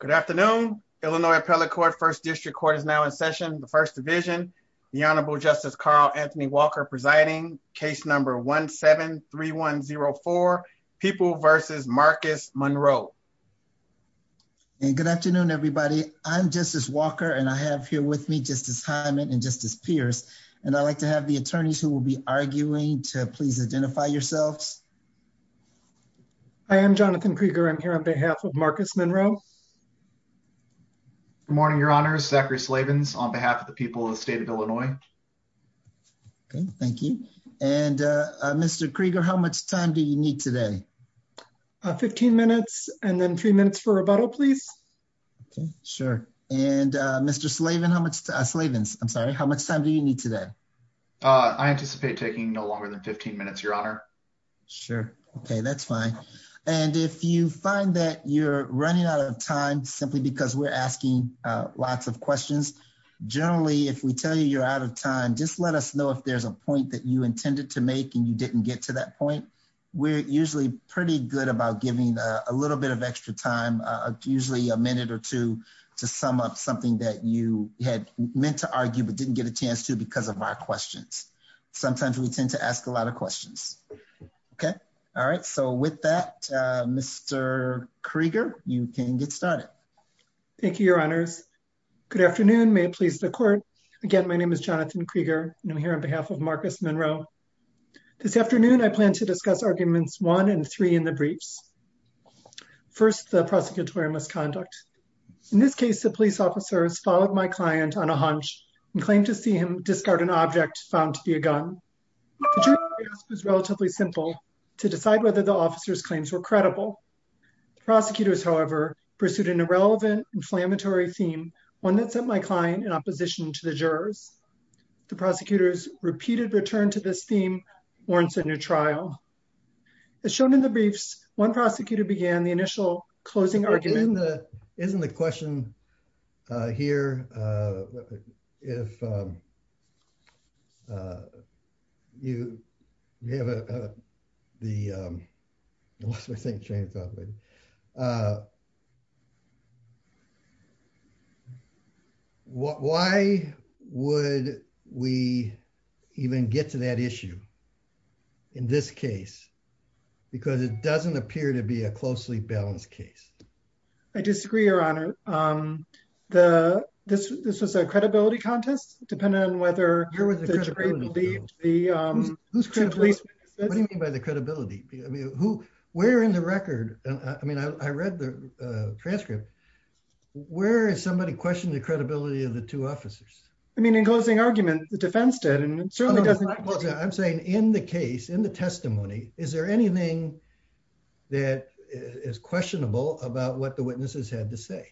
Good afternoon, Illinois Appellate Court, 1st District Court is now in session, 1st Division. The Honorable Justice Carl Anthony Walker presiding, case number 1-7-3104, People v. Marcus Monroe. Good afternoon, everybody. I'm Justice Walker, and I have here with me Justice Hyman and Justice Pierce. And I'd like to have the attorneys who will be arguing to please identify yourselves. Hi, I'm Jonathan Krieger, I'm here on behalf of Marcus Monroe. Good morning, Your Honor, Zachary Slavens on behalf of the people of the state of Illinois. Thank you. And Mr. Krieger, how much time do you need today? 15 minutes, and then three minutes for rebuttal, please. Sure. And Mr. Slavens, I'm sorry, how much time do you need today? I anticipate taking no longer than 15 minutes, Your Honor. Sure. Okay, that's fine. And if you find that you're running out of time, simply because we're asking lots of questions, generally, if we tell you you're out of time, just let us know if there's a point that you intended to make and you didn't get to that point. We're usually pretty good about giving a little bit of extra time, usually a minute or two, to sum up something that you had meant to argue but didn't get a chance to because of our questions. Sometimes we tend to ask a lot of questions. Okay. All right. So with that, Mr. Krieger, you can get started. Thank you, Your Honors. Good afternoon. May it please the court. Again, my name is Jonathan Krieger, and I'm here on behalf of Marcus Monroe. This afternoon, I plan to discuss arguments one and three in the briefs. First, the prosecutorial misconduct. In this case, the police officers followed my client on a hunch and claimed to see him as an object found to be a gun. The jury's response was relatively simple, to decide whether the officers' claims were credible. The prosecutors, however, pursued an irrelevant, inflammatory theme, one that sent my client in opposition to the jurors. The prosecutors' repeated return to this theme warrants a new trial. As shown in the briefs, one prosecutor began the initial closing argument. Isn't the question here, if you have the, why would we even get to that issue in this case? I disagree, Your Honor. This was a credibility contest, depending on whether the jury believed the two police witnesses. What do you mean by the credibility? I mean, who, where in the record, I mean, I read the transcript. Where is somebody questioning the credibility of the two officers? I mean, in closing arguments, the defense did, and it certainly doesn't. Well, I'm saying in the case, in the testimony, is there anything that is questionable about what the witnesses had to say?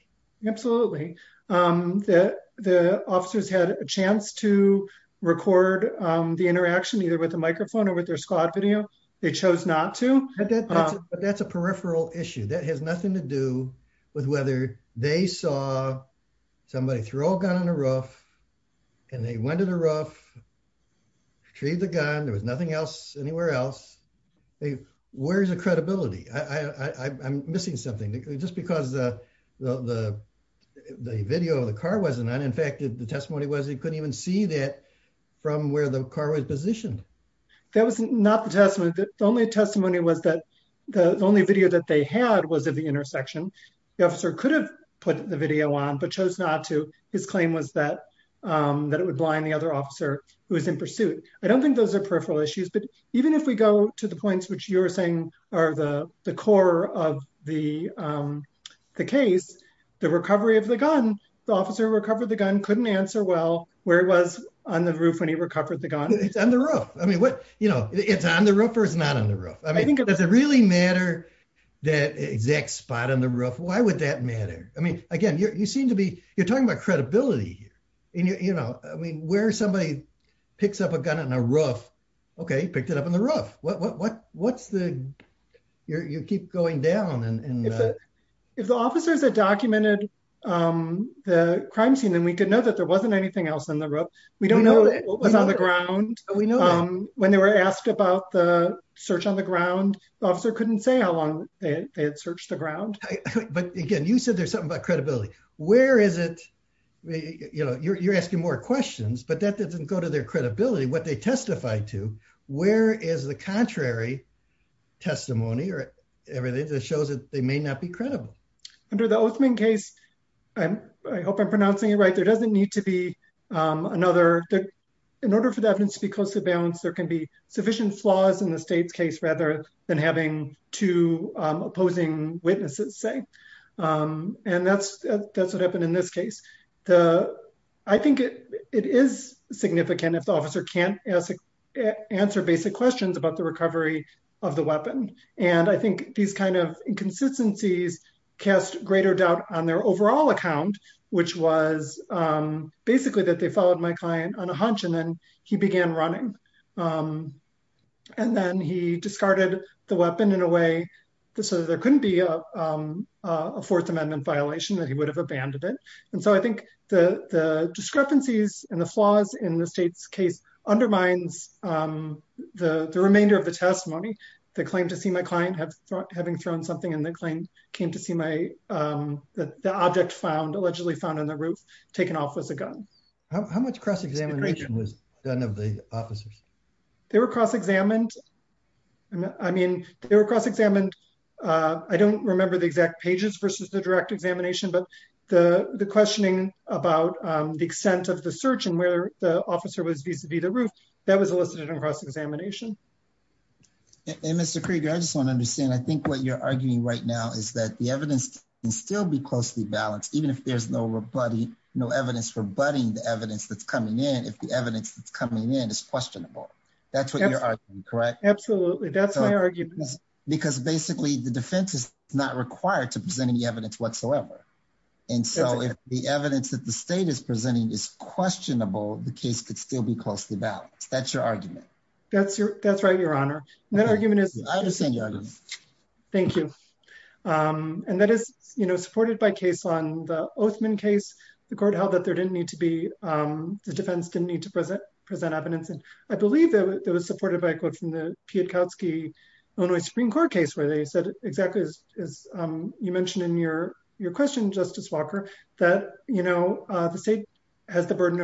Absolutely. The officers had a chance to record the interaction, either with a microphone or with their squad video. They chose not to. But that's a peripheral issue that has nothing to do with whether they saw somebody throw a gun on the roof, and they went to the roof, retrieved the gun, there was nothing else anywhere else. Where's the credibility? I'm missing something. Just because the video of the car wasn't on, in fact, the testimony was they couldn't even see that from where the car was positioned. That was not the testimony. The only testimony was that the only video that they had was of the intersection. The officer could have put the video on, but chose not to. His claim was that it would blind the other officer who was in pursuit. I don't think those are peripheral issues, but even if we go to the points which you were saying are the core of the case, the recovery of the gun, the officer who recovered the gun couldn't answer well where it was on the roof when he recovered the gun. It's on the roof. I mean, what, you know, it's on the roof or it's not on the roof. I mean, does it really matter that exact spot on the roof? Why would that matter? I mean, again, you seem to be, you're talking about credibility, you know, I mean, where somebody picks up a gun on a roof, okay, he picked it up on the roof. What's the, you keep going down and- If the officers had documented the crime scene, then we could know that there wasn't anything else on the roof. We don't know what was on the ground. We know that. When they were asked about the search on the ground, the officer couldn't say how long they had searched the ground. But again, you said there's something about credibility. Where is it, you know, you're asking more questions, but that doesn't go to their credibility, what they testified to, where is the contrary testimony or everything that shows that they may not be credible? Under the Oathman case, I hope I'm pronouncing it right, there doesn't need to be another, in order for the evidence to be closely balanced, there can be sufficient flaws in the state's case rather than having two opposing witnesses say. And that's what happened in this case. I think it is significant if the officer can't answer basic questions about the recovery of the weapon. And I think these kinds of inconsistencies cast greater doubt on their overall account, which was basically that they followed my client on a hunch and then he began running. And then he discarded the weapon in a way so there couldn't be a Fourth Amendment violation that he would have abandoned it. And so I think the discrepancies and the flaws in the state's case undermines the remainder of the testimony. The claim to see my client having thrown something and the claim came to see the object found on the roof, allegedly found on the roof, taken off as a gun. How much cross-examination was done of the officers? They were cross-examined. I mean, they were cross-examined, I don't remember the exact pages versus the direct examination, but the questioning about the extent of the search and where the officer was vis-a-vis the roof, that was elicited in cross-examination. And Mr. Krieger, I just want to understand, I think what you're arguing right now is that the evidence can still be closely balanced, even if there's no evidence rebutting the evidence that's coming in, if the evidence that's coming in is questionable. That's what you're arguing, correct? Absolutely. That's my argument. Because basically the defense is not required to present any evidence whatsoever. And so if the evidence that the state is presenting is questionable, the case could still be closely balanced. That's your argument. That's right, Your Honor. That argument is- I understand your argument. Thank you. And that is supported by case on the Oathman case, the court held that there didn't need to be- the defense didn't need to present evidence. And I believe that it was supported by a quote from the Pietkowski Illinois Supreme Court case where they said exactly as you mentioned in your question, Justice Walker, that the state has the burden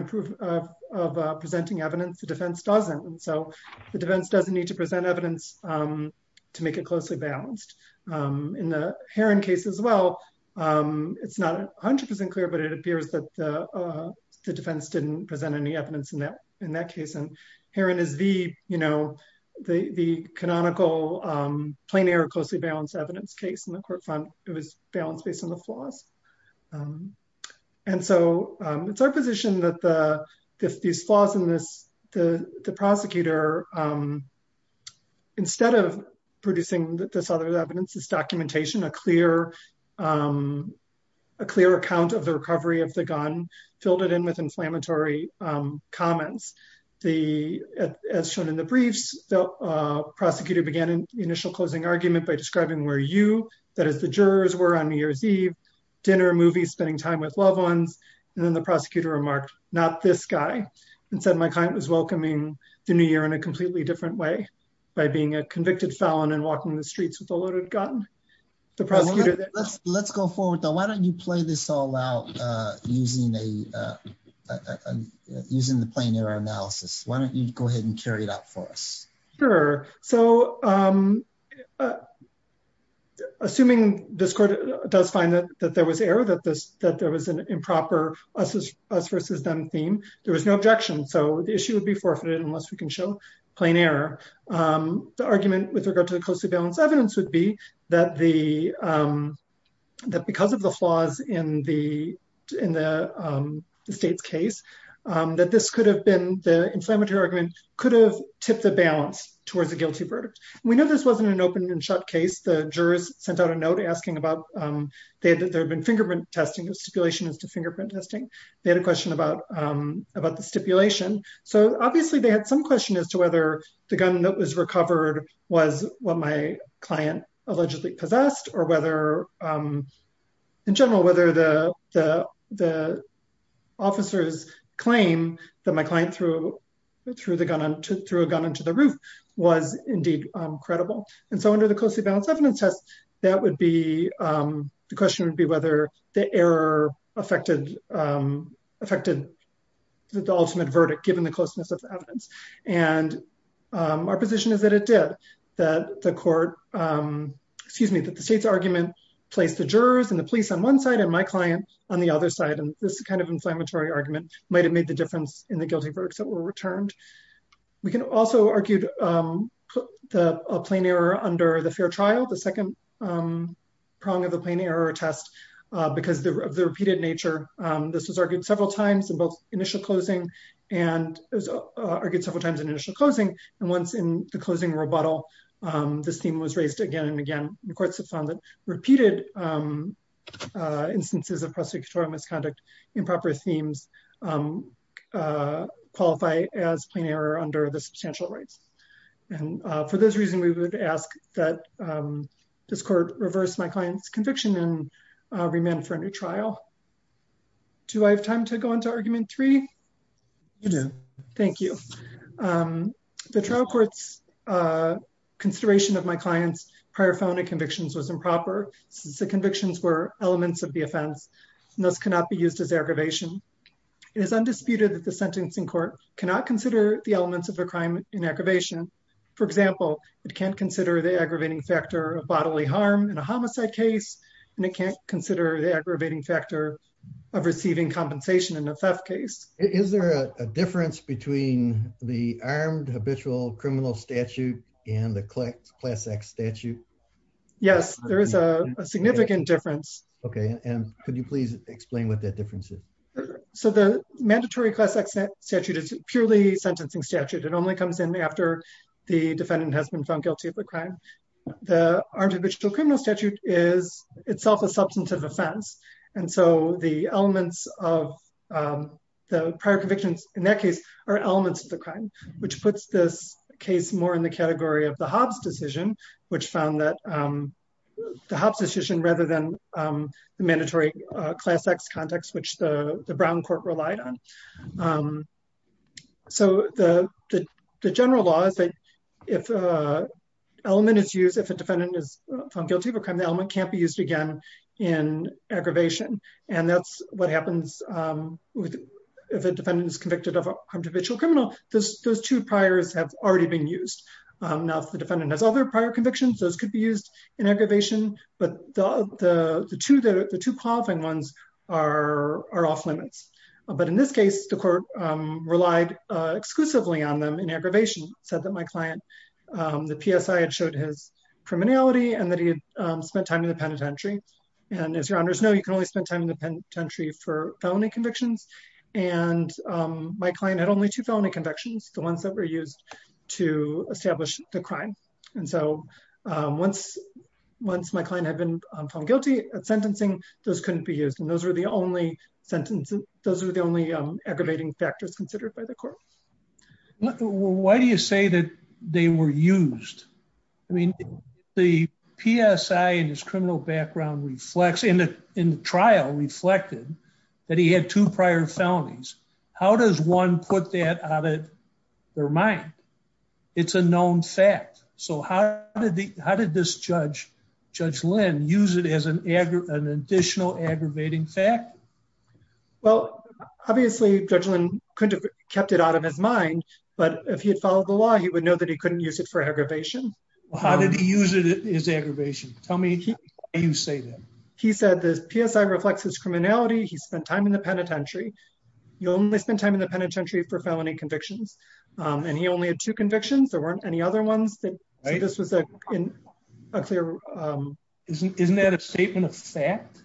of presenting evidence, the defense doesn't, and so the defense doesn't need to present evidence to make it closely balanced. In the Heron case as well, it's not 100% clear, but it appears that the defense didn't present any evidence in that case. And Heron is the canonical plain air closely balanced evidence case in the court fund. It was balanced based on the flaws. And so it's our position that these flaws in this, the prosecutor, instead of producing this other evidence, this documentation, a clear account of the recovery of the gun filled it in with inflammatory comments. As shown in the briefs, the prosecutor began the initial closing argument by describing where you, that is the jurors, were on New Year's Eve, dinner, movies, spending time with loved ones. And then the prosecutor remarked, not this guy, and said my client was welcoming the new year in a completely different way by being a convicted felon and walking the streets with a loaded gun. The prosecutor- Let's go forward though. Why don't you play this all out using the plain air analysis? Why don't you go ahead and carry it out for us? Sure. So assuming this court does find that there was error, that there was an improper us versus them theme, there was no objection. So the issue would be forfeited unless we can show plain error. The argument with regard to the closely balanced evidence would be that because of the flaws in the state's case, that this could have been, the inflammatory argument could have the balance towards a guilty verdict. We know this wasn't an open and shut case. The jurors sent out a note asking about, there had been fingerprint testing, a stipulation as to fingerprint testing. They had a question about the stipulation. So obviously they had some question as to whether the gun that was recovered was what my client allegedly possessed or whether, in general, whether the officers claim that my client threw a gun into the roof was indeed credible. And so under the closely balanced evidence test, that would be, the question would be whether the error affected the ultimate verdict given the closeness of the evidence. And our position is that it did, that the court, excuse me, that the state's argument placed the jurors and the police on one side and my client on the other side. And this kind of inflammatory argument might've made the difference in the guilty verdicts that were returned. We can also argue the plain error under the fair trial, the second prong of the plain error test because of the repeated nature. This was argued several times in both initial closing and it was argued several times in initial closing. And once in the closing rebuttal, this theme was raised again and again. The courts have found that repeated instances of prosecutorial misconduct, improper themes qualify as plain error under the substantial rights. And for those reasons, we would ask that this court reverse my client's conviction and remand for a new trial. Do I have time to go into argument three? You do. Thank you. The trial court's consideration of my client's prior felony convictions was improper since the convictions were elements of the offense and thus cannot be used as aggravation. It is undisputed that the sentencing court cannot consider the elements of a crime in aggravation. For example, it can't consider the aggravating factor of bodily harm in a homicide case and it can't consider the aggravating factor of receiving compensation in a theft case. Is there a difference between the armed habitual criminal statute and the class X statute? Yes, there is a significant difference. Okay. And could you please explain what that difference is? So the mandatory class X statute is purely a sentencing statute. It only comes in after the defendant has been found guilty of the crime. The armed habitual criminal statute is itself a substantive offense. And so the elements of the prior convictions in that case are elements of the crime, which puts this case more in the category of the Hobbs decision, which found that the Hobbs decision rather than the mandatory class X context, which the Brown court relied on. So the general law is that if an element is used, if a defendant is found guilty of a and that's what happens if a defendant is convicted of an armed habitual criminal, those two priors have already been used. Now, if the defendant has other prior convictions, those could be used in aggravation. But the two qualifying ones are off limits. But in this case, the court relied exclusively on them in aggravation, said that my client, the PSI had showed his criminality and that he had spent time in the penitentiary. And as your honors know, you can only spend time in the penitentiary for felony convictions. And my client had only two felony convictions, the ones that were used to establish the crime. And so once my client had been found guilty of sentencing, those couldn't be used. And those were the only aggravating factors considered by the court. Well, why do you say that they were used? I mean, the PSI and his criminal background reflects in the trial reflected that he had two prior felonies. How does one put that out of their mind? It's a known fact. So how did this judge, Judge Lynn, use it as an additional aggravating fact? Well, obviously, Judge Lynn couldn't have kept it out of his mind. But if he had followed the law, he would know that he couldn't use it for aggravation. How did he use it as aggravation? Tell me why you say that. He said the PSI reflects his criminality. He spent time in the penitentiary. You only spend time in the penitentiary for felony convictions. And he only had two convictions. There weren't any other ones that this was a clear. Isn't that a statement of fact?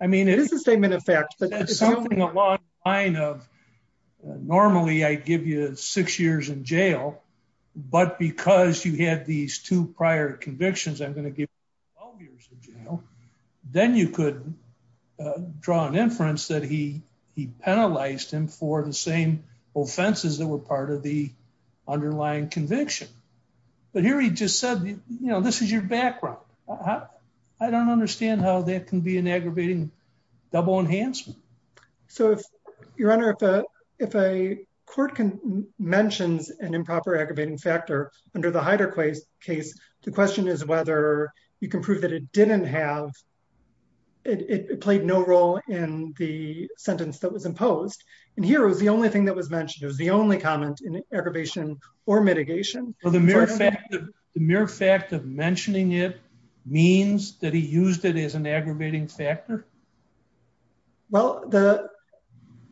I mean, it is a statement of fact. But that's something along the line of, normally, I give you six years in jail. But because you had these two prior convictions, I'm going to give you 12 years in jail. Then you could draw an inference that he penalized him for the same offenses that were part of the underlying conviction. But here he just said, you know, this is your background. I don't understand how that can be an aggravating double enhancement. So if your honor, if a court can mention an improper aggravating factor under the Hyder case, the question is whether you can prove that it didn't have, it played no role in the sentence that was imposed. And here was the only thing that was mentioned. It was the only comment in aggravation or mitigation. So the mere fact of mentioning it means that he used it as an aggravating factor? Well,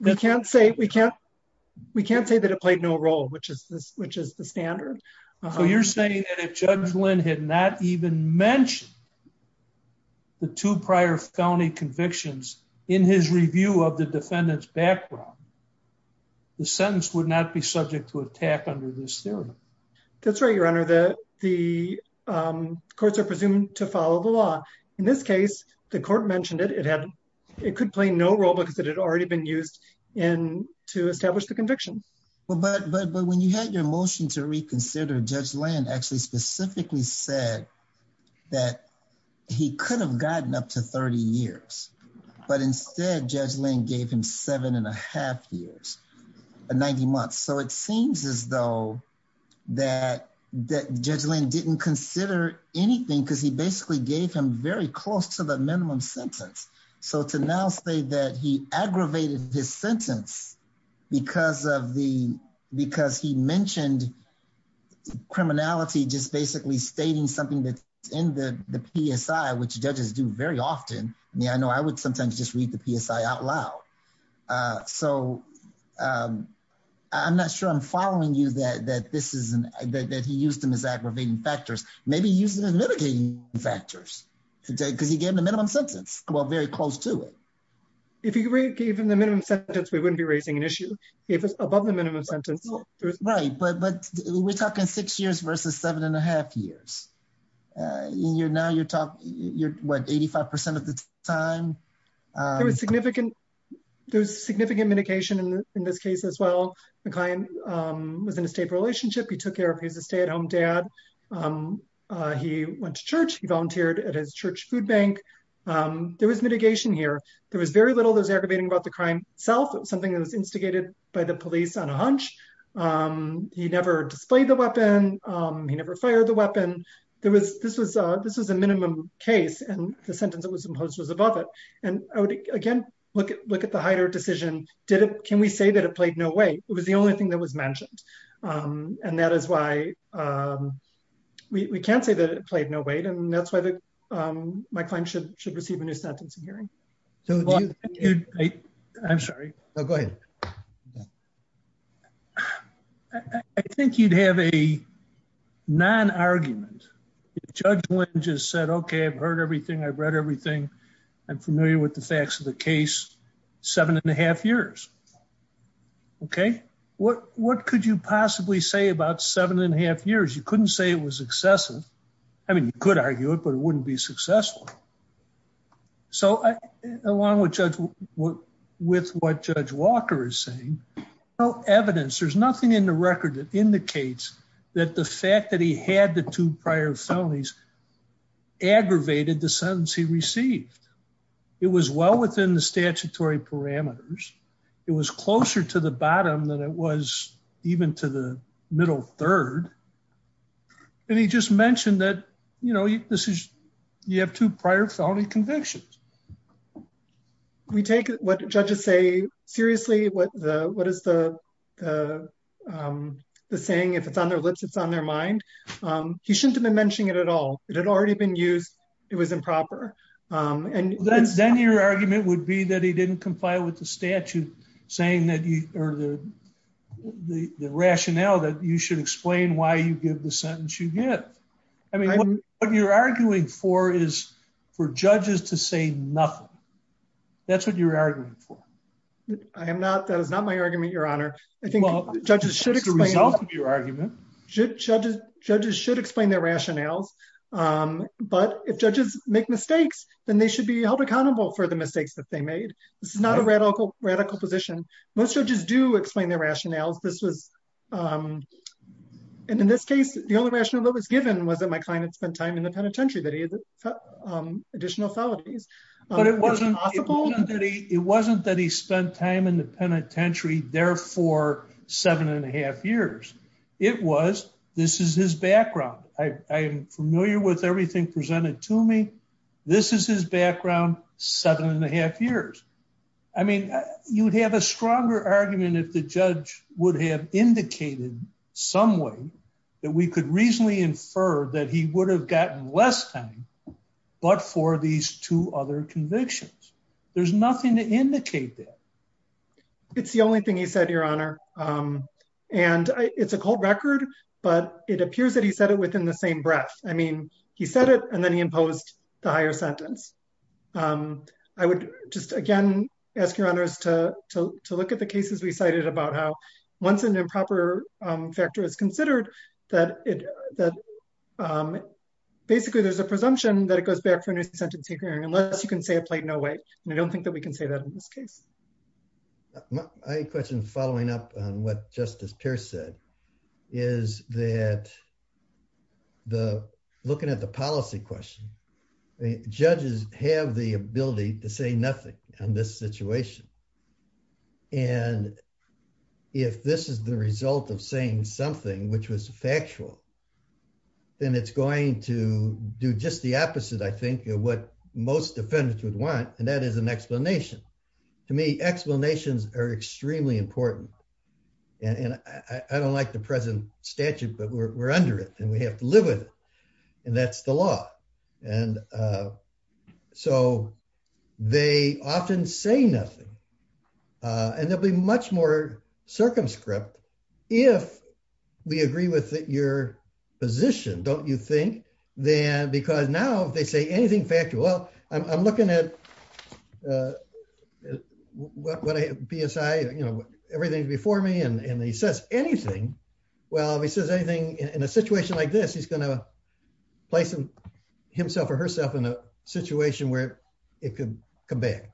we can't say that it played no role, which is the standard. So you're saying that if Judge Lynn had not even mentioned the two prior felony convictions in his review of the defendant's background, the sentence would not be subject to attack under this theorem? That's right, your honor, the courts are presumed to follow the law. In this case, the court mentioned it. It could play no role because it had already been used to establish the conviction. Well, but when you had your motion to reconsider, Judge Lynn actually specifically said that he could have gotten up to 30 years, but instead Judge Lynn gave him seven and a half years, 90 months. So it seems as though that Judge Lynn didn't consider anything because he basically gave him very close to the minimum sentence. So to now say that he aggravated his sentence because he mentioned criminality, just basically stating something that's in the PSI, which judges do very often. I mean, I know I would sometimes just read the PSI out loud. So I'm not sure I'm following you that he used them as aggravating factors. Maybe he used them as mitigating factors because he gave him the minimum sentence. Well, very close to it. If he gave him the minimum sentence, we wouldn't be raising an issue. He gave us above the minimum sentence. Right, but we're talking six years versus seven and a half years. Now you're talking, what, 85% of the time? There was significant mitigation in this case as well. The client was in a stable relationship. He took care of his stay-at-home dad. He went to church. He volunteered at his church food bank. There was mitigation here. There was very little that was aggravating about the crime itself. It was something that was instigated by the police on a hunch. He never displayed the weapon. He never fired the weapon. This was a minimum case, and the sentence that was imposed was above it. Again, look at the Heider decision. Can we say that it played no weight? It was the only thing that was mentioned, and that is why we can't say that it played no weight, and that's why my client should receive a new sentence in hearing. I'm sorry. No, go ahead. I think you'd have a non-argument. Judge Lynch has said, okay, I've heard everything. I've read everything. I'm familiar with the facts of the case, seven and a half years, okay? What could you possibly say about seven and a half years? You couldn't say it was excessive. I mean, you could argue it, but it wouldn't be successful. So along with what Judge Walker is saying, no evidence. There's nothing in the record that indicates that the fact that he had the two prior felonies aggravated the sentence he received. It was well within the statutory parameters. It was closer to the bottom than it was even to the middle third, and he just mentioned that you have two prior felony convictions. We take what judges say seriously. What is the saying? If it's on their lips, it's on their mind. He shouldn't have been mentioning it at all. It had already been used. It was improper. Then your argument would be that he didn't comply with the statute saying that you, or the rationale that you should explain why you give the sentence you give. I mean, what you're arguing for is for judges to say nothing. That's what you're arguing for. I am not. That is not my argument, your honor. I think judges should explain- It's the result of your argument. Judges should explain their rationales, but if judges make mistakes, then they should be held accountable for the mistakes that they made. This is not a radical position. Most judges do explain their rationales. In this case, the only rationale that was given was that my client had spent time in the penitentiary, that he had additional felonies. It wasn't that he spent time in the penitentiary there for seven and a half years. It was, this is his background. I am familiar with everything presented to me. This is his background, seven and a half years. I mean, you'd have a stronger argument if the judge would have indicated some way that we could reasonably infer that he would have gotten less time, but for these two other convictions. There's nothing to indicate that. It's the only thing you said, your honor. And it's a cold record, but it appears that he said it within the same breath. I mean, he said it, and then he imposed the higher sentence. I would just, again, ask your honors to look at the cases we cited about how once an improper factor is considered, that basically there's a presumption that it goes back for a new sentencing hearing unless you can say it played no way. And I don't think that we can say that in this case. My question following up on what Justice Pierce said is that the, looking at the policy question, judges have the ability to say nothing on this situation. And if this is the result of saying something, which was factual, then it's going to do just the opposite, I think, of what most defendants would want. And that is an explanation. To me, explanations are extremely important. And I don't like the present statute, but we're under it and we have to live with it. And that's the law. And so they often say nothing. And there'll be much more circumscript if we agree with your position, don't you think? Because now if they say anything factual, I'm looking at PSI, everything's before me and he says anything. Well, if he says anything in a situation like this, he's going to place himself or herself in a situation where it could come back.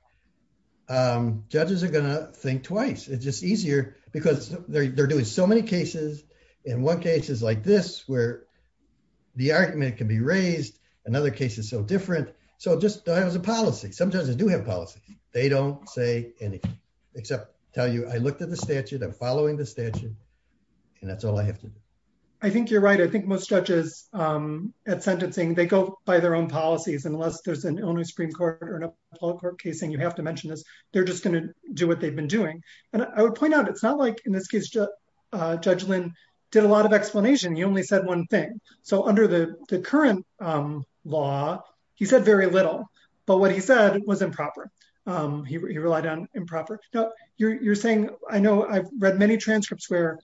Judges are going to think twice. It's just easier because they're doing so many cases. And one case is like this, where the argument can be raised. Another case is so different. Just as a policy, some judges do have policies. They don't say anything except tell you, I looked at the statute, I'm following the statute, and that's all I have to do. I think you're right. I think most judges at sentencing, they go by their own policies unless there's an Illinois Supreme Court or an Appellate Court case. And you have to mention this. They're just going to do what they've been doing. And I would point out, it's not like in this case, Judge Lynn did a lot of explanation. He only said one thing. So under the current law, he said very little. But what he said was improper. He relied on improper. Now, you're saying, I know I've read many transcripts where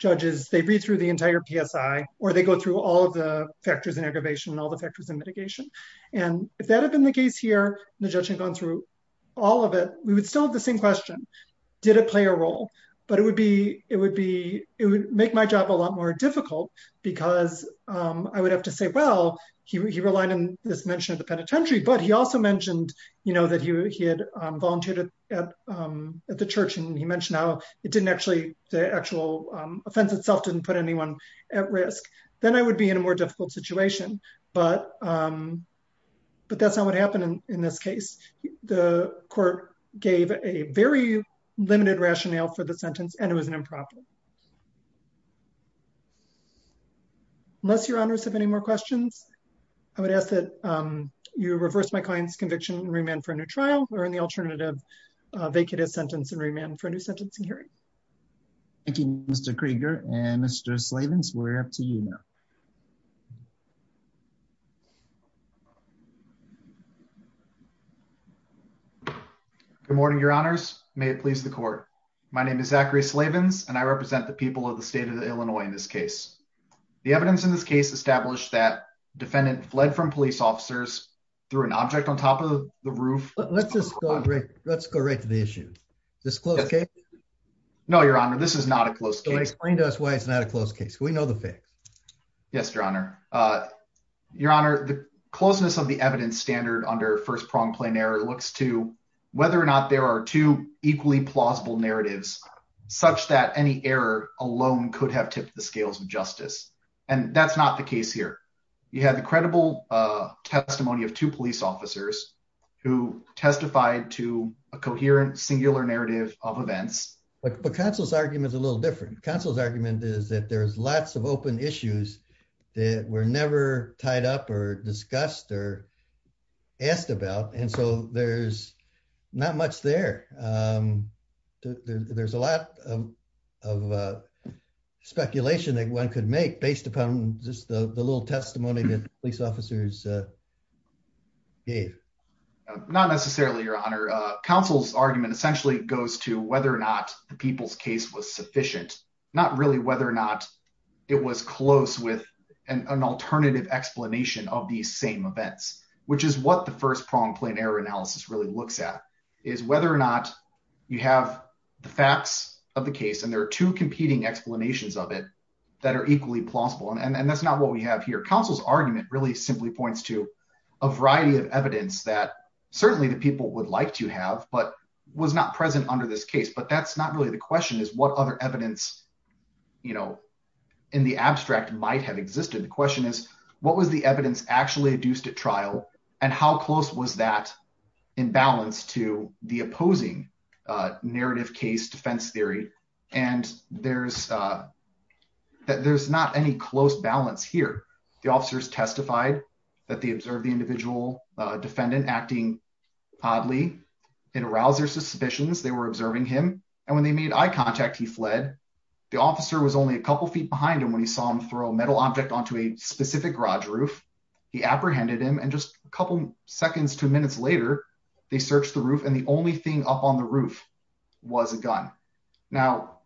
judges, they read through the entire PSI, or they go through all of the factors in aggravation and all the factors in mitigation. And if that had been the case here, and the judge had gone through all of it, we would still have the same question. Did it play a role? But it would make my job a lot more difficult because I would have to say, well, he relied on this mention of the penitentiary, but he also mentioned that he had volunteered at the church. And he mentioned how it didn't actually, the actual offense itself didn't put anyone at risk. Then I would be in a more difficult situation. But that's not what happened in this case. The court gave a very limited rationale for the sentence, and it was an improper. Unless your honors have any more questions, I would ask that you reverse my client's conviction and remand for a new trial, or in the alternative, vacate his sentence and remand for a new sentencing hearing. Thank you, Mr. Krieger. And Mr. Slavins, we're up to you now. Good morning, your honors. May it please the court. My name is Zachary Slavins, and I represent the people of the state of Illinois in this case. The evidence in this case established that defendant fled from police officers through an object on top of the roof. Let's go right to the issue. Is this a close case? No, your honor, this is not a close case. Explain to us why it's not a close case. We know the facts. Yes, your honor. Your honor, the closeness of the evidence standard under first prong plain error looks to whether or not there are two equally plausible narratives such that any error alone could have tipped the scales of justice. That's not the case here. You have the credible testimony of two police officers who testified to a coherent singular narrative of events. But counsel's argument is a little different. Counsel's argument is that there's lots of open issues that were never tied up or discussed or asked about. And so there's not much there. There's a lot of speculation that one could make based upon just the little testimony that police officers gave. Not necessarily, your honor. Counsel's argument essentially goes to whether or not the people's case was sufficient. Not really whether or not it was close with an alternative explanation of these same events, which is what the first prong plain error analysis really looks at is whether or not you have the facts of the case and there are two competing explanations of it that are equally plausible. And that's not what we have here. Counsel's argument really simply points to a variety of evidence that certainly the people would like to have but was not present under this case. But that's not really the question is what other evidence in the abstract might have existed. The question is, what was the evidence actually adduced at trial and how close was that in balance to the opposing narrative case defense theory. And there's not any close balance here. The officers testified that they observed the individual defendant acting oddly. It aroused their suspicions. They were observing him. And when they made eye contact, he fled. The officer was only a couple of feet behind him when he saw him throw a metal object onto a specific garage roof. He apprehended him. And just a couple seconds to minutes later, they searched the roof. And the only thing up on the roof was a gun. Now,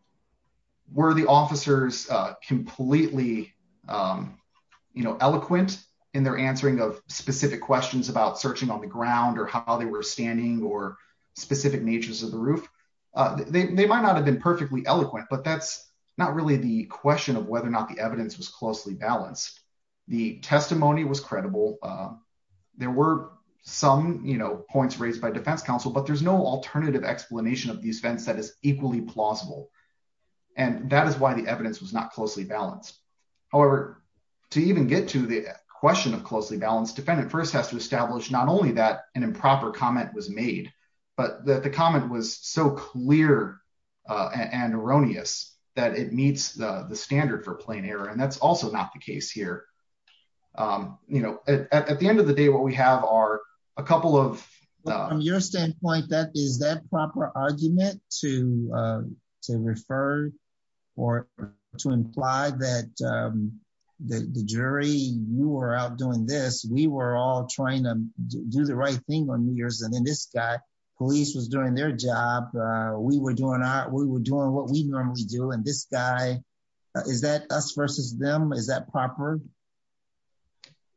were the officers completely eloquent in their answering of specific questions about searching on the ground or how they were standing or specific natures of the roof? They might not have been perfectly eloquent but that's not really the question of whether or not the evidence was closely balanced. The testimony was credible. There were some points raised by defense counsel but there's no alternative explanation of these events that is equally plausible. And that is why the evidence was not closely balanced. However, to even get to the question of closely balanced, defendant first has to establish not only that an improper comment was made but that the comment was so clear and erroneous that it meets the standard for plain error. And that's also not the case here. At the end of the day, what we have are a couple of- From your standpoint, is that proper argument to refer or to imply that the jury, you were out doing this, we were all trying to do the right thing on New Year's. And then this guy, police was doing their job. We were doing what we normally do. And this guy, is that us versus them? Is that proper?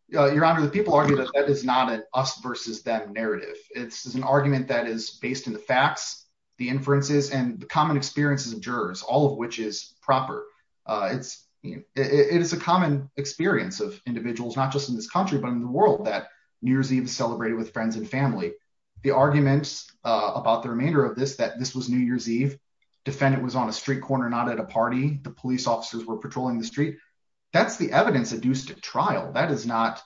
Your Honor, the people argue that that is not an us versus them narrative. It's an argument that is based in the facts, the inferences and the common experiences of jurors, all of which is proper. It is a common experience of individuals, not just in this country, but in the world that New Year's Eve is celebrated with friends and family. The arguments about the remainder of this, that this was New Year's Eve, defendant was on a street corner, not at a party. The police officers were patrolling the street. That's the evidence of do stick trial. That is not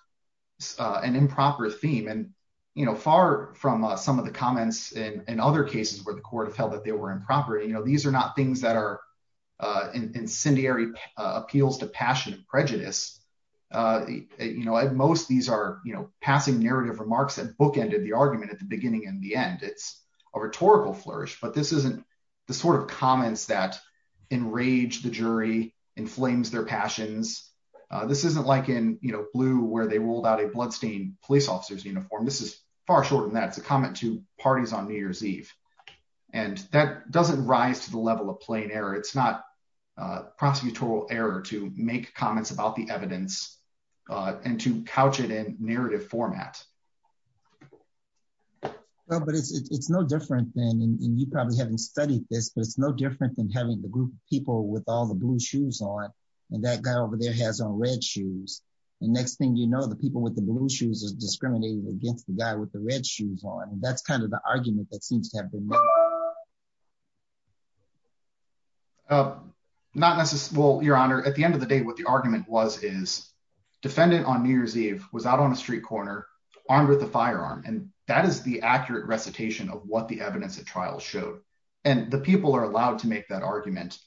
an improper theme. And far from some of the comments in other cases where the court have held that they were improper, these are not things that are incendiary appeals to passionate prejudice. At most, these are passing narrative remarks that bookended the argument at the beginning and the end. It's a rhetorical flourish, but this isn't the sort of comments that enrage the jury, inflames their passions. This isn't like in Blue, where they ruled out a bloodstained police officer's uniform. This is far shorter than that. It's a comment to parties on New Year's Eve. And that doesn't rise to the level of plain error. It's not prosecutorial error to make comments about the evidence and to couch it in narrative format. Well, but it's no different than, and you probably haven't studied this, but it's no different than having the group of people with all the blue shoes on, and that guy over there has on red shoes. And next thing you know, the people with the blue shoes is discriminating against the guy with the red shoes on. And that's kind of the argument that seems to have been made. Not necessarily, well, Your Honor, at the end of the day, what the argument was, is defendant on New Year's Eve was out on a street corner armed with a firearm. And that is the accurate recitation of what the evidence at trial showed. And the people are allowed to make that argument.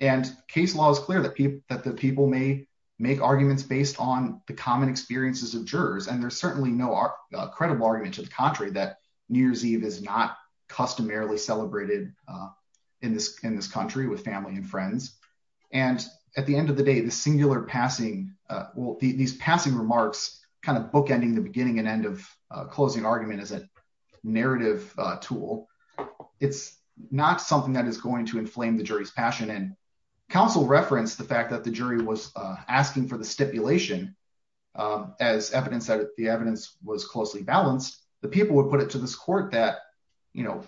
And case law is clear that the people may make arguments based on the common experiences of jurors. And there's certainly no credible argument to the contrary that New Year's Eve is not customarily celebrated in this country with family and friends. And at the end of the day, the singular passing, well, these passing remarks kind of bookending the beginning and end of a closing argument is a narrative tool. It's not something that is going to inflame the jury's passion. And counsel referenced the fact that the jury was asking for the stipulation as evidence that the evidence was closely balanced. The people would put it to this court that, you know,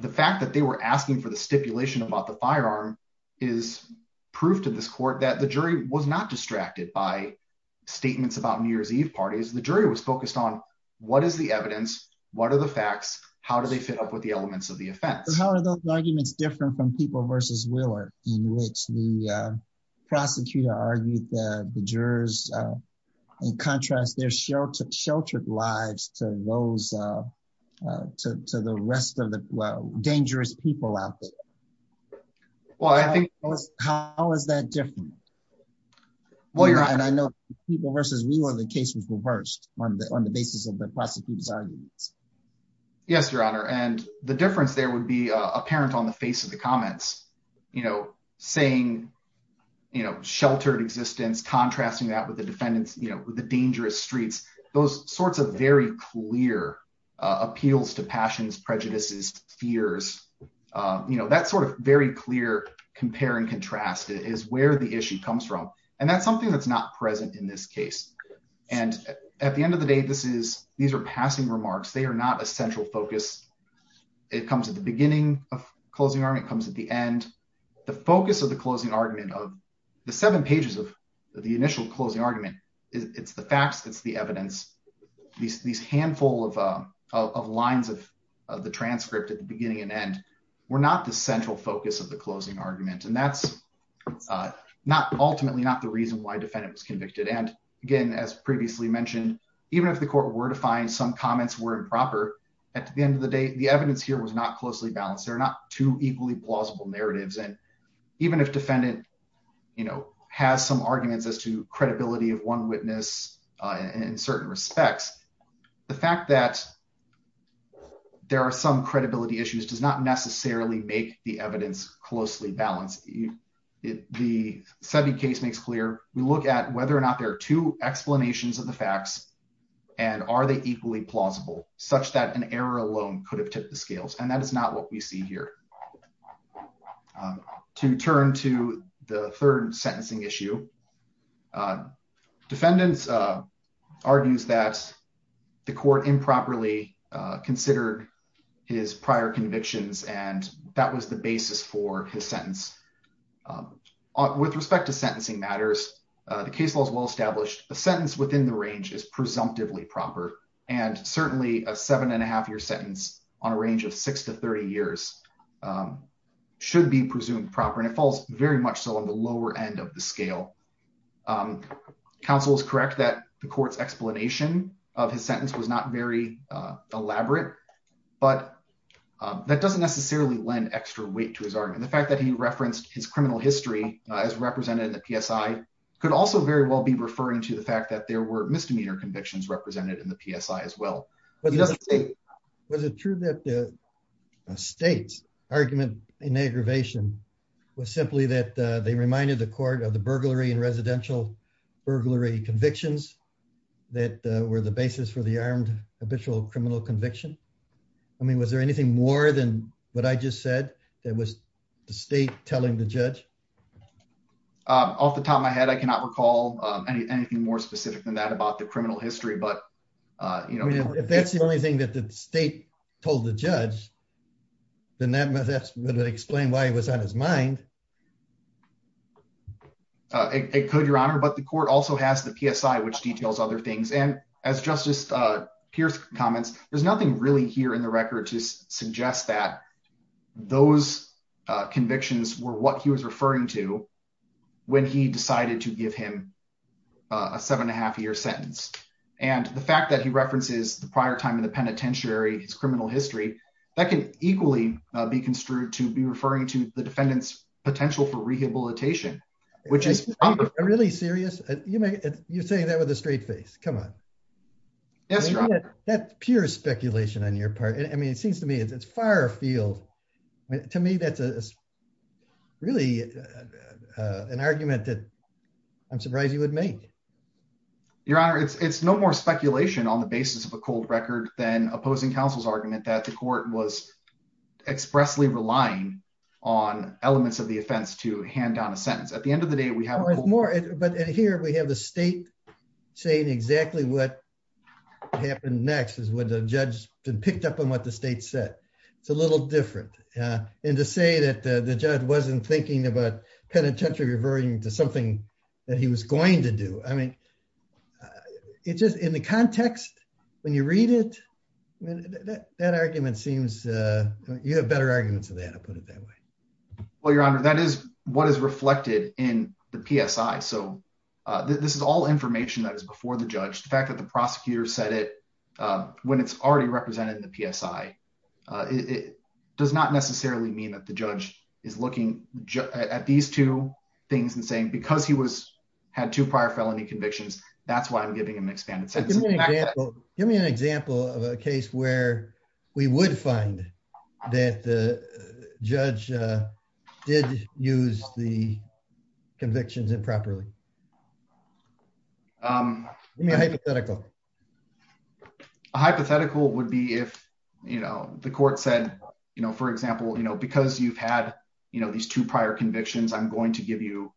the fact that they were asking for the stipulation about the firearm is proof to this court that the jury was not distracted by statements about New Year's Eve parties. The jury was focused on what is the evidence? What are the facts? How do they fit up with the elements of the offense? So how are those arguments different from people versus Wheeler in which the prosecutor argued the jurors in contrast their sheltered lives to the rest of the dangerous people out there? Well, I think- How is that different? And I know people versus Wheeler, the case was reversed on the basis of the prosecutor's arguments. Yes, Your Honor. And the difference there would be apparent on the face of the comments, you know, saying, you know, sheltered existence, contrasting that with the defendants, you know, with the dangerous streets, those sorts of very clear appeals to passions, prejudices, fears, you know, that sort of very clear compare and contrast is where the issue comes from. And that's something that's not present in this case. And at the end of the day, this is, these are passing remarks. They are not a central focus. It comes at the beginning of closing argument, it comes at the end. The focus of the closing argument of the seven pages of the initial closing argument, it's the facts, it's the evidence. These handful of lines of the transcript at the beginning and end, we're not the central focus of the closing argument. And that's ultimately not the reason why defendant was convicted. And again, as previously mentioned, even if the court were to find some comments were improper, at the end of the day, the evidence here was not closely balanced. There are not two equally plausible narratives. And even if defendant, you know, has some arguments as to credibility of one witness in certain respects, the fact that there are some credibility issues does not necessarily make the evidence closely balanced. The SETI case makes clear, we look at whether or not there are two explanations of the facts and are they equally plausible such that an error alone could have tipped the scales. And that is not what we see here. To turn to the third sentencing issue, defendants argues that the court improperly considered his prior convictions. And that was the basis for his sentence. With respect to sentencing matters, the case law is well-established. The sentence within the range is presumptively proper. And certainly a seven and a half year sentence on a range of six to 30 years should be presumed proper. And it falls very much so on the lower end of the scale. Counsel is correct that the court's explanation of his sentence was not very elaborate, but that doesn't necessarily lend extra weight to his argument. The fact that he referenced his criminal history as represented in the PSI could also very well be referring to the fact that there were misdemeanor convictions represented in the PSI as well. Was it true that the state's argument in aggravation was simply that they reminded the court of the burglary and residential burglary convictions that were the basis for the armed habitual criminal conviction? I mean, was there anything more than what I just said that was the state telling the judge? Off the top of my head, I cannot recall anything more specific than that about the criminal history, but you know- If that's the only thing that the state told the judge, then that would explain why it was on his mind. It could, Your Honor, but the court also has the PSI, which details other things. And as Justice Pierce comments, there's nothing really here in the record to suggest that those convictions were what he was referring to when he decided to give him a seven and a half year sentence. And the fact that he references the prior time in the penitentiary, his criminal history, that can equally be construed to be referring to the defendant's potential for rehabilitation, which is probably- Really serious? You're saying that with a straight face, come on. Yes, Your Honor. That's pure speculation on your part. It seems to me it's far afield. To me, that's really an argument that I'm surprised he would make. Your Honor, it's no more speculation on the basis of a cold record than opposing counsel's argument that the court was expressly relying on elements of the offense to hand down a sentence. At the end of the day, we have- But here we have the state saying exactly what happened next when the judge picked up on what the state said. It's a little different. And to say that the judge wasn't thinking about penitentiary referring to something that he was going to do. I mean, it's just in the context, when you read it, that argument seems- You have better arguments than that, I'll put it that way. Well, Your Honor, that is what is reflected in the PSI. So this is all information that is before the judge. The fact that the prosecutor said it when it's already represented in the PSI, it does not necessarily mean that the judge is looking at these two things and saying, because he had two prior felony convictions, that's why I'm giving him an expanded sentence. Give me an example of a case where we would find that the judge did use the convictions improperly. Give me a hypothetical. A hypothetical would be if the court said, for example, because you've had these two prior convictions, I'm going to give you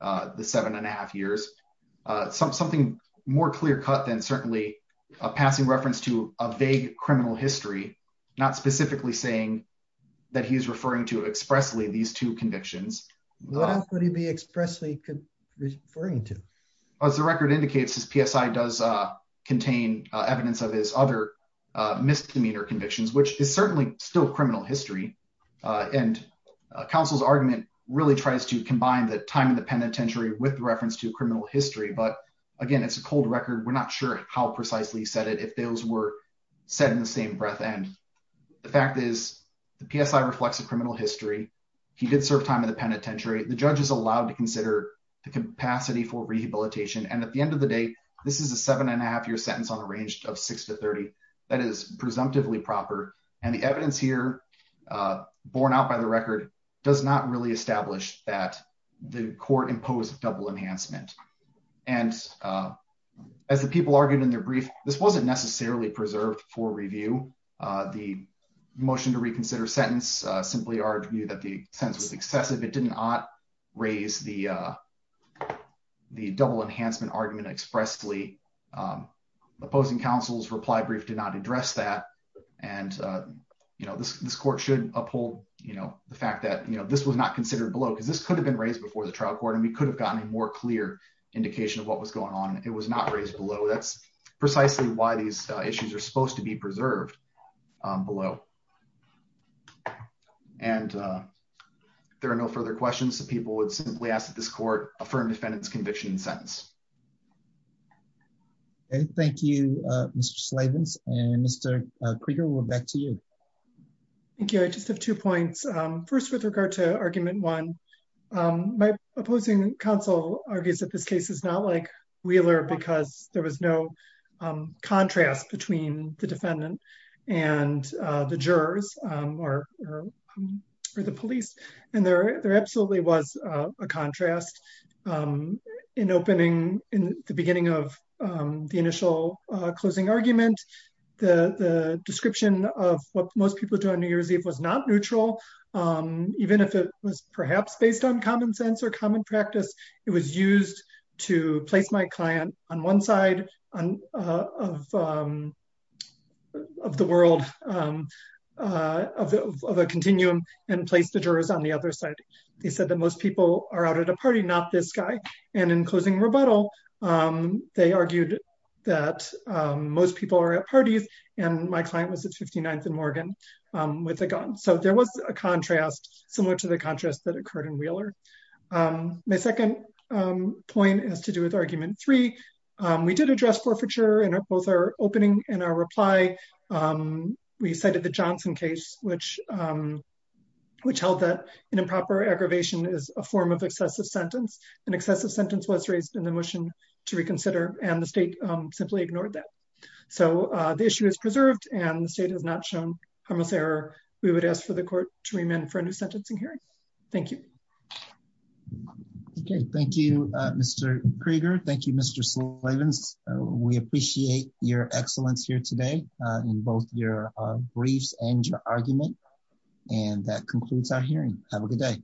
the seven and a half years. Something more clear cut than certainly a passing reference to a vague criminal history, not specifically saying that he's referring to expressly these two convictions. What else would he be expressly referring to? As the record indicates, his PSI does contain evidence of his other misdemeanor convictions, which is certainly still criminal history. And counsel's argument really tries to combine the time in the penitentiary with reference to criminal history. But again, it's a cold record. We're not sure how precisely he said it, if those were said in the same breath. And the fact is the PSI reflects a criminal history. He did serve time in the penitentiary. The judge is allowed to consider the capacity for rehabilitation. And at the end of the day, this is a seven and a half year sentence on a range of six to 30. That is presumptively proper. And the evidence here borne out by the record does not really establish that the court imposed double enhancement. And as the people argued in their brief, this wasn't necessarily preserved for review. The motion to reconsider sentence simply argued that the sentence was excessive. It did not raise the double enhancement argument expressly. Opposing counsel's reply brief did not address that. And this court should uphold the fact that this was not considered below because this could have been raised before the trial court. And we could have gotten a more clear indication of what was going on. It was not raised below. That's precisely why these issues are supposed to be preserved below. And if there are no further questions, the people would simply ask that this court affirm defendant's conviction and sentence. Okay, thank you, Mr. Slavins. And Mr. Krieger, we're back to you. Thank you. I just have two points. First, with regard to argument one, my opposing counsel argues that this case is not like Wheeler because there was no contrast between the defendant and the jurors or the police. And there absolutely was a contrast in opening in the beginning of the initial closing argument. The description of what most people do on New Year's Eve was not neutral. Even if it was perhaps based on common sense or common practice, it was used to place my client on one side of the world of a continuum and place the jurors on the other side. They said that most people are out at a party, not this guy. And in closing rebuttal, they argued that most people are at parties and my client was at 59th and Morgan with a gun. So there was a contrast similar to the contrast that occurred in Wheeler. My second point has to do with argument three. We did address forfeiture in both our opening and our reply. We cited the Johnson case, which held that an improper aggravation is a form of excessive sentence. An excessive sentence was raised in the motion to reconsider and the state simply ignored that. So the issue is preserved and the state has not shown harmless error. We would ask for the court to remand for a new sentencing hearing. Thank you. Okay. Thank you, Mr. Krieger. Thank you, Mr. Slavens. We appreciate your excellence here today in both your briefs and your argument. And that concludes our hearing. Have a good day.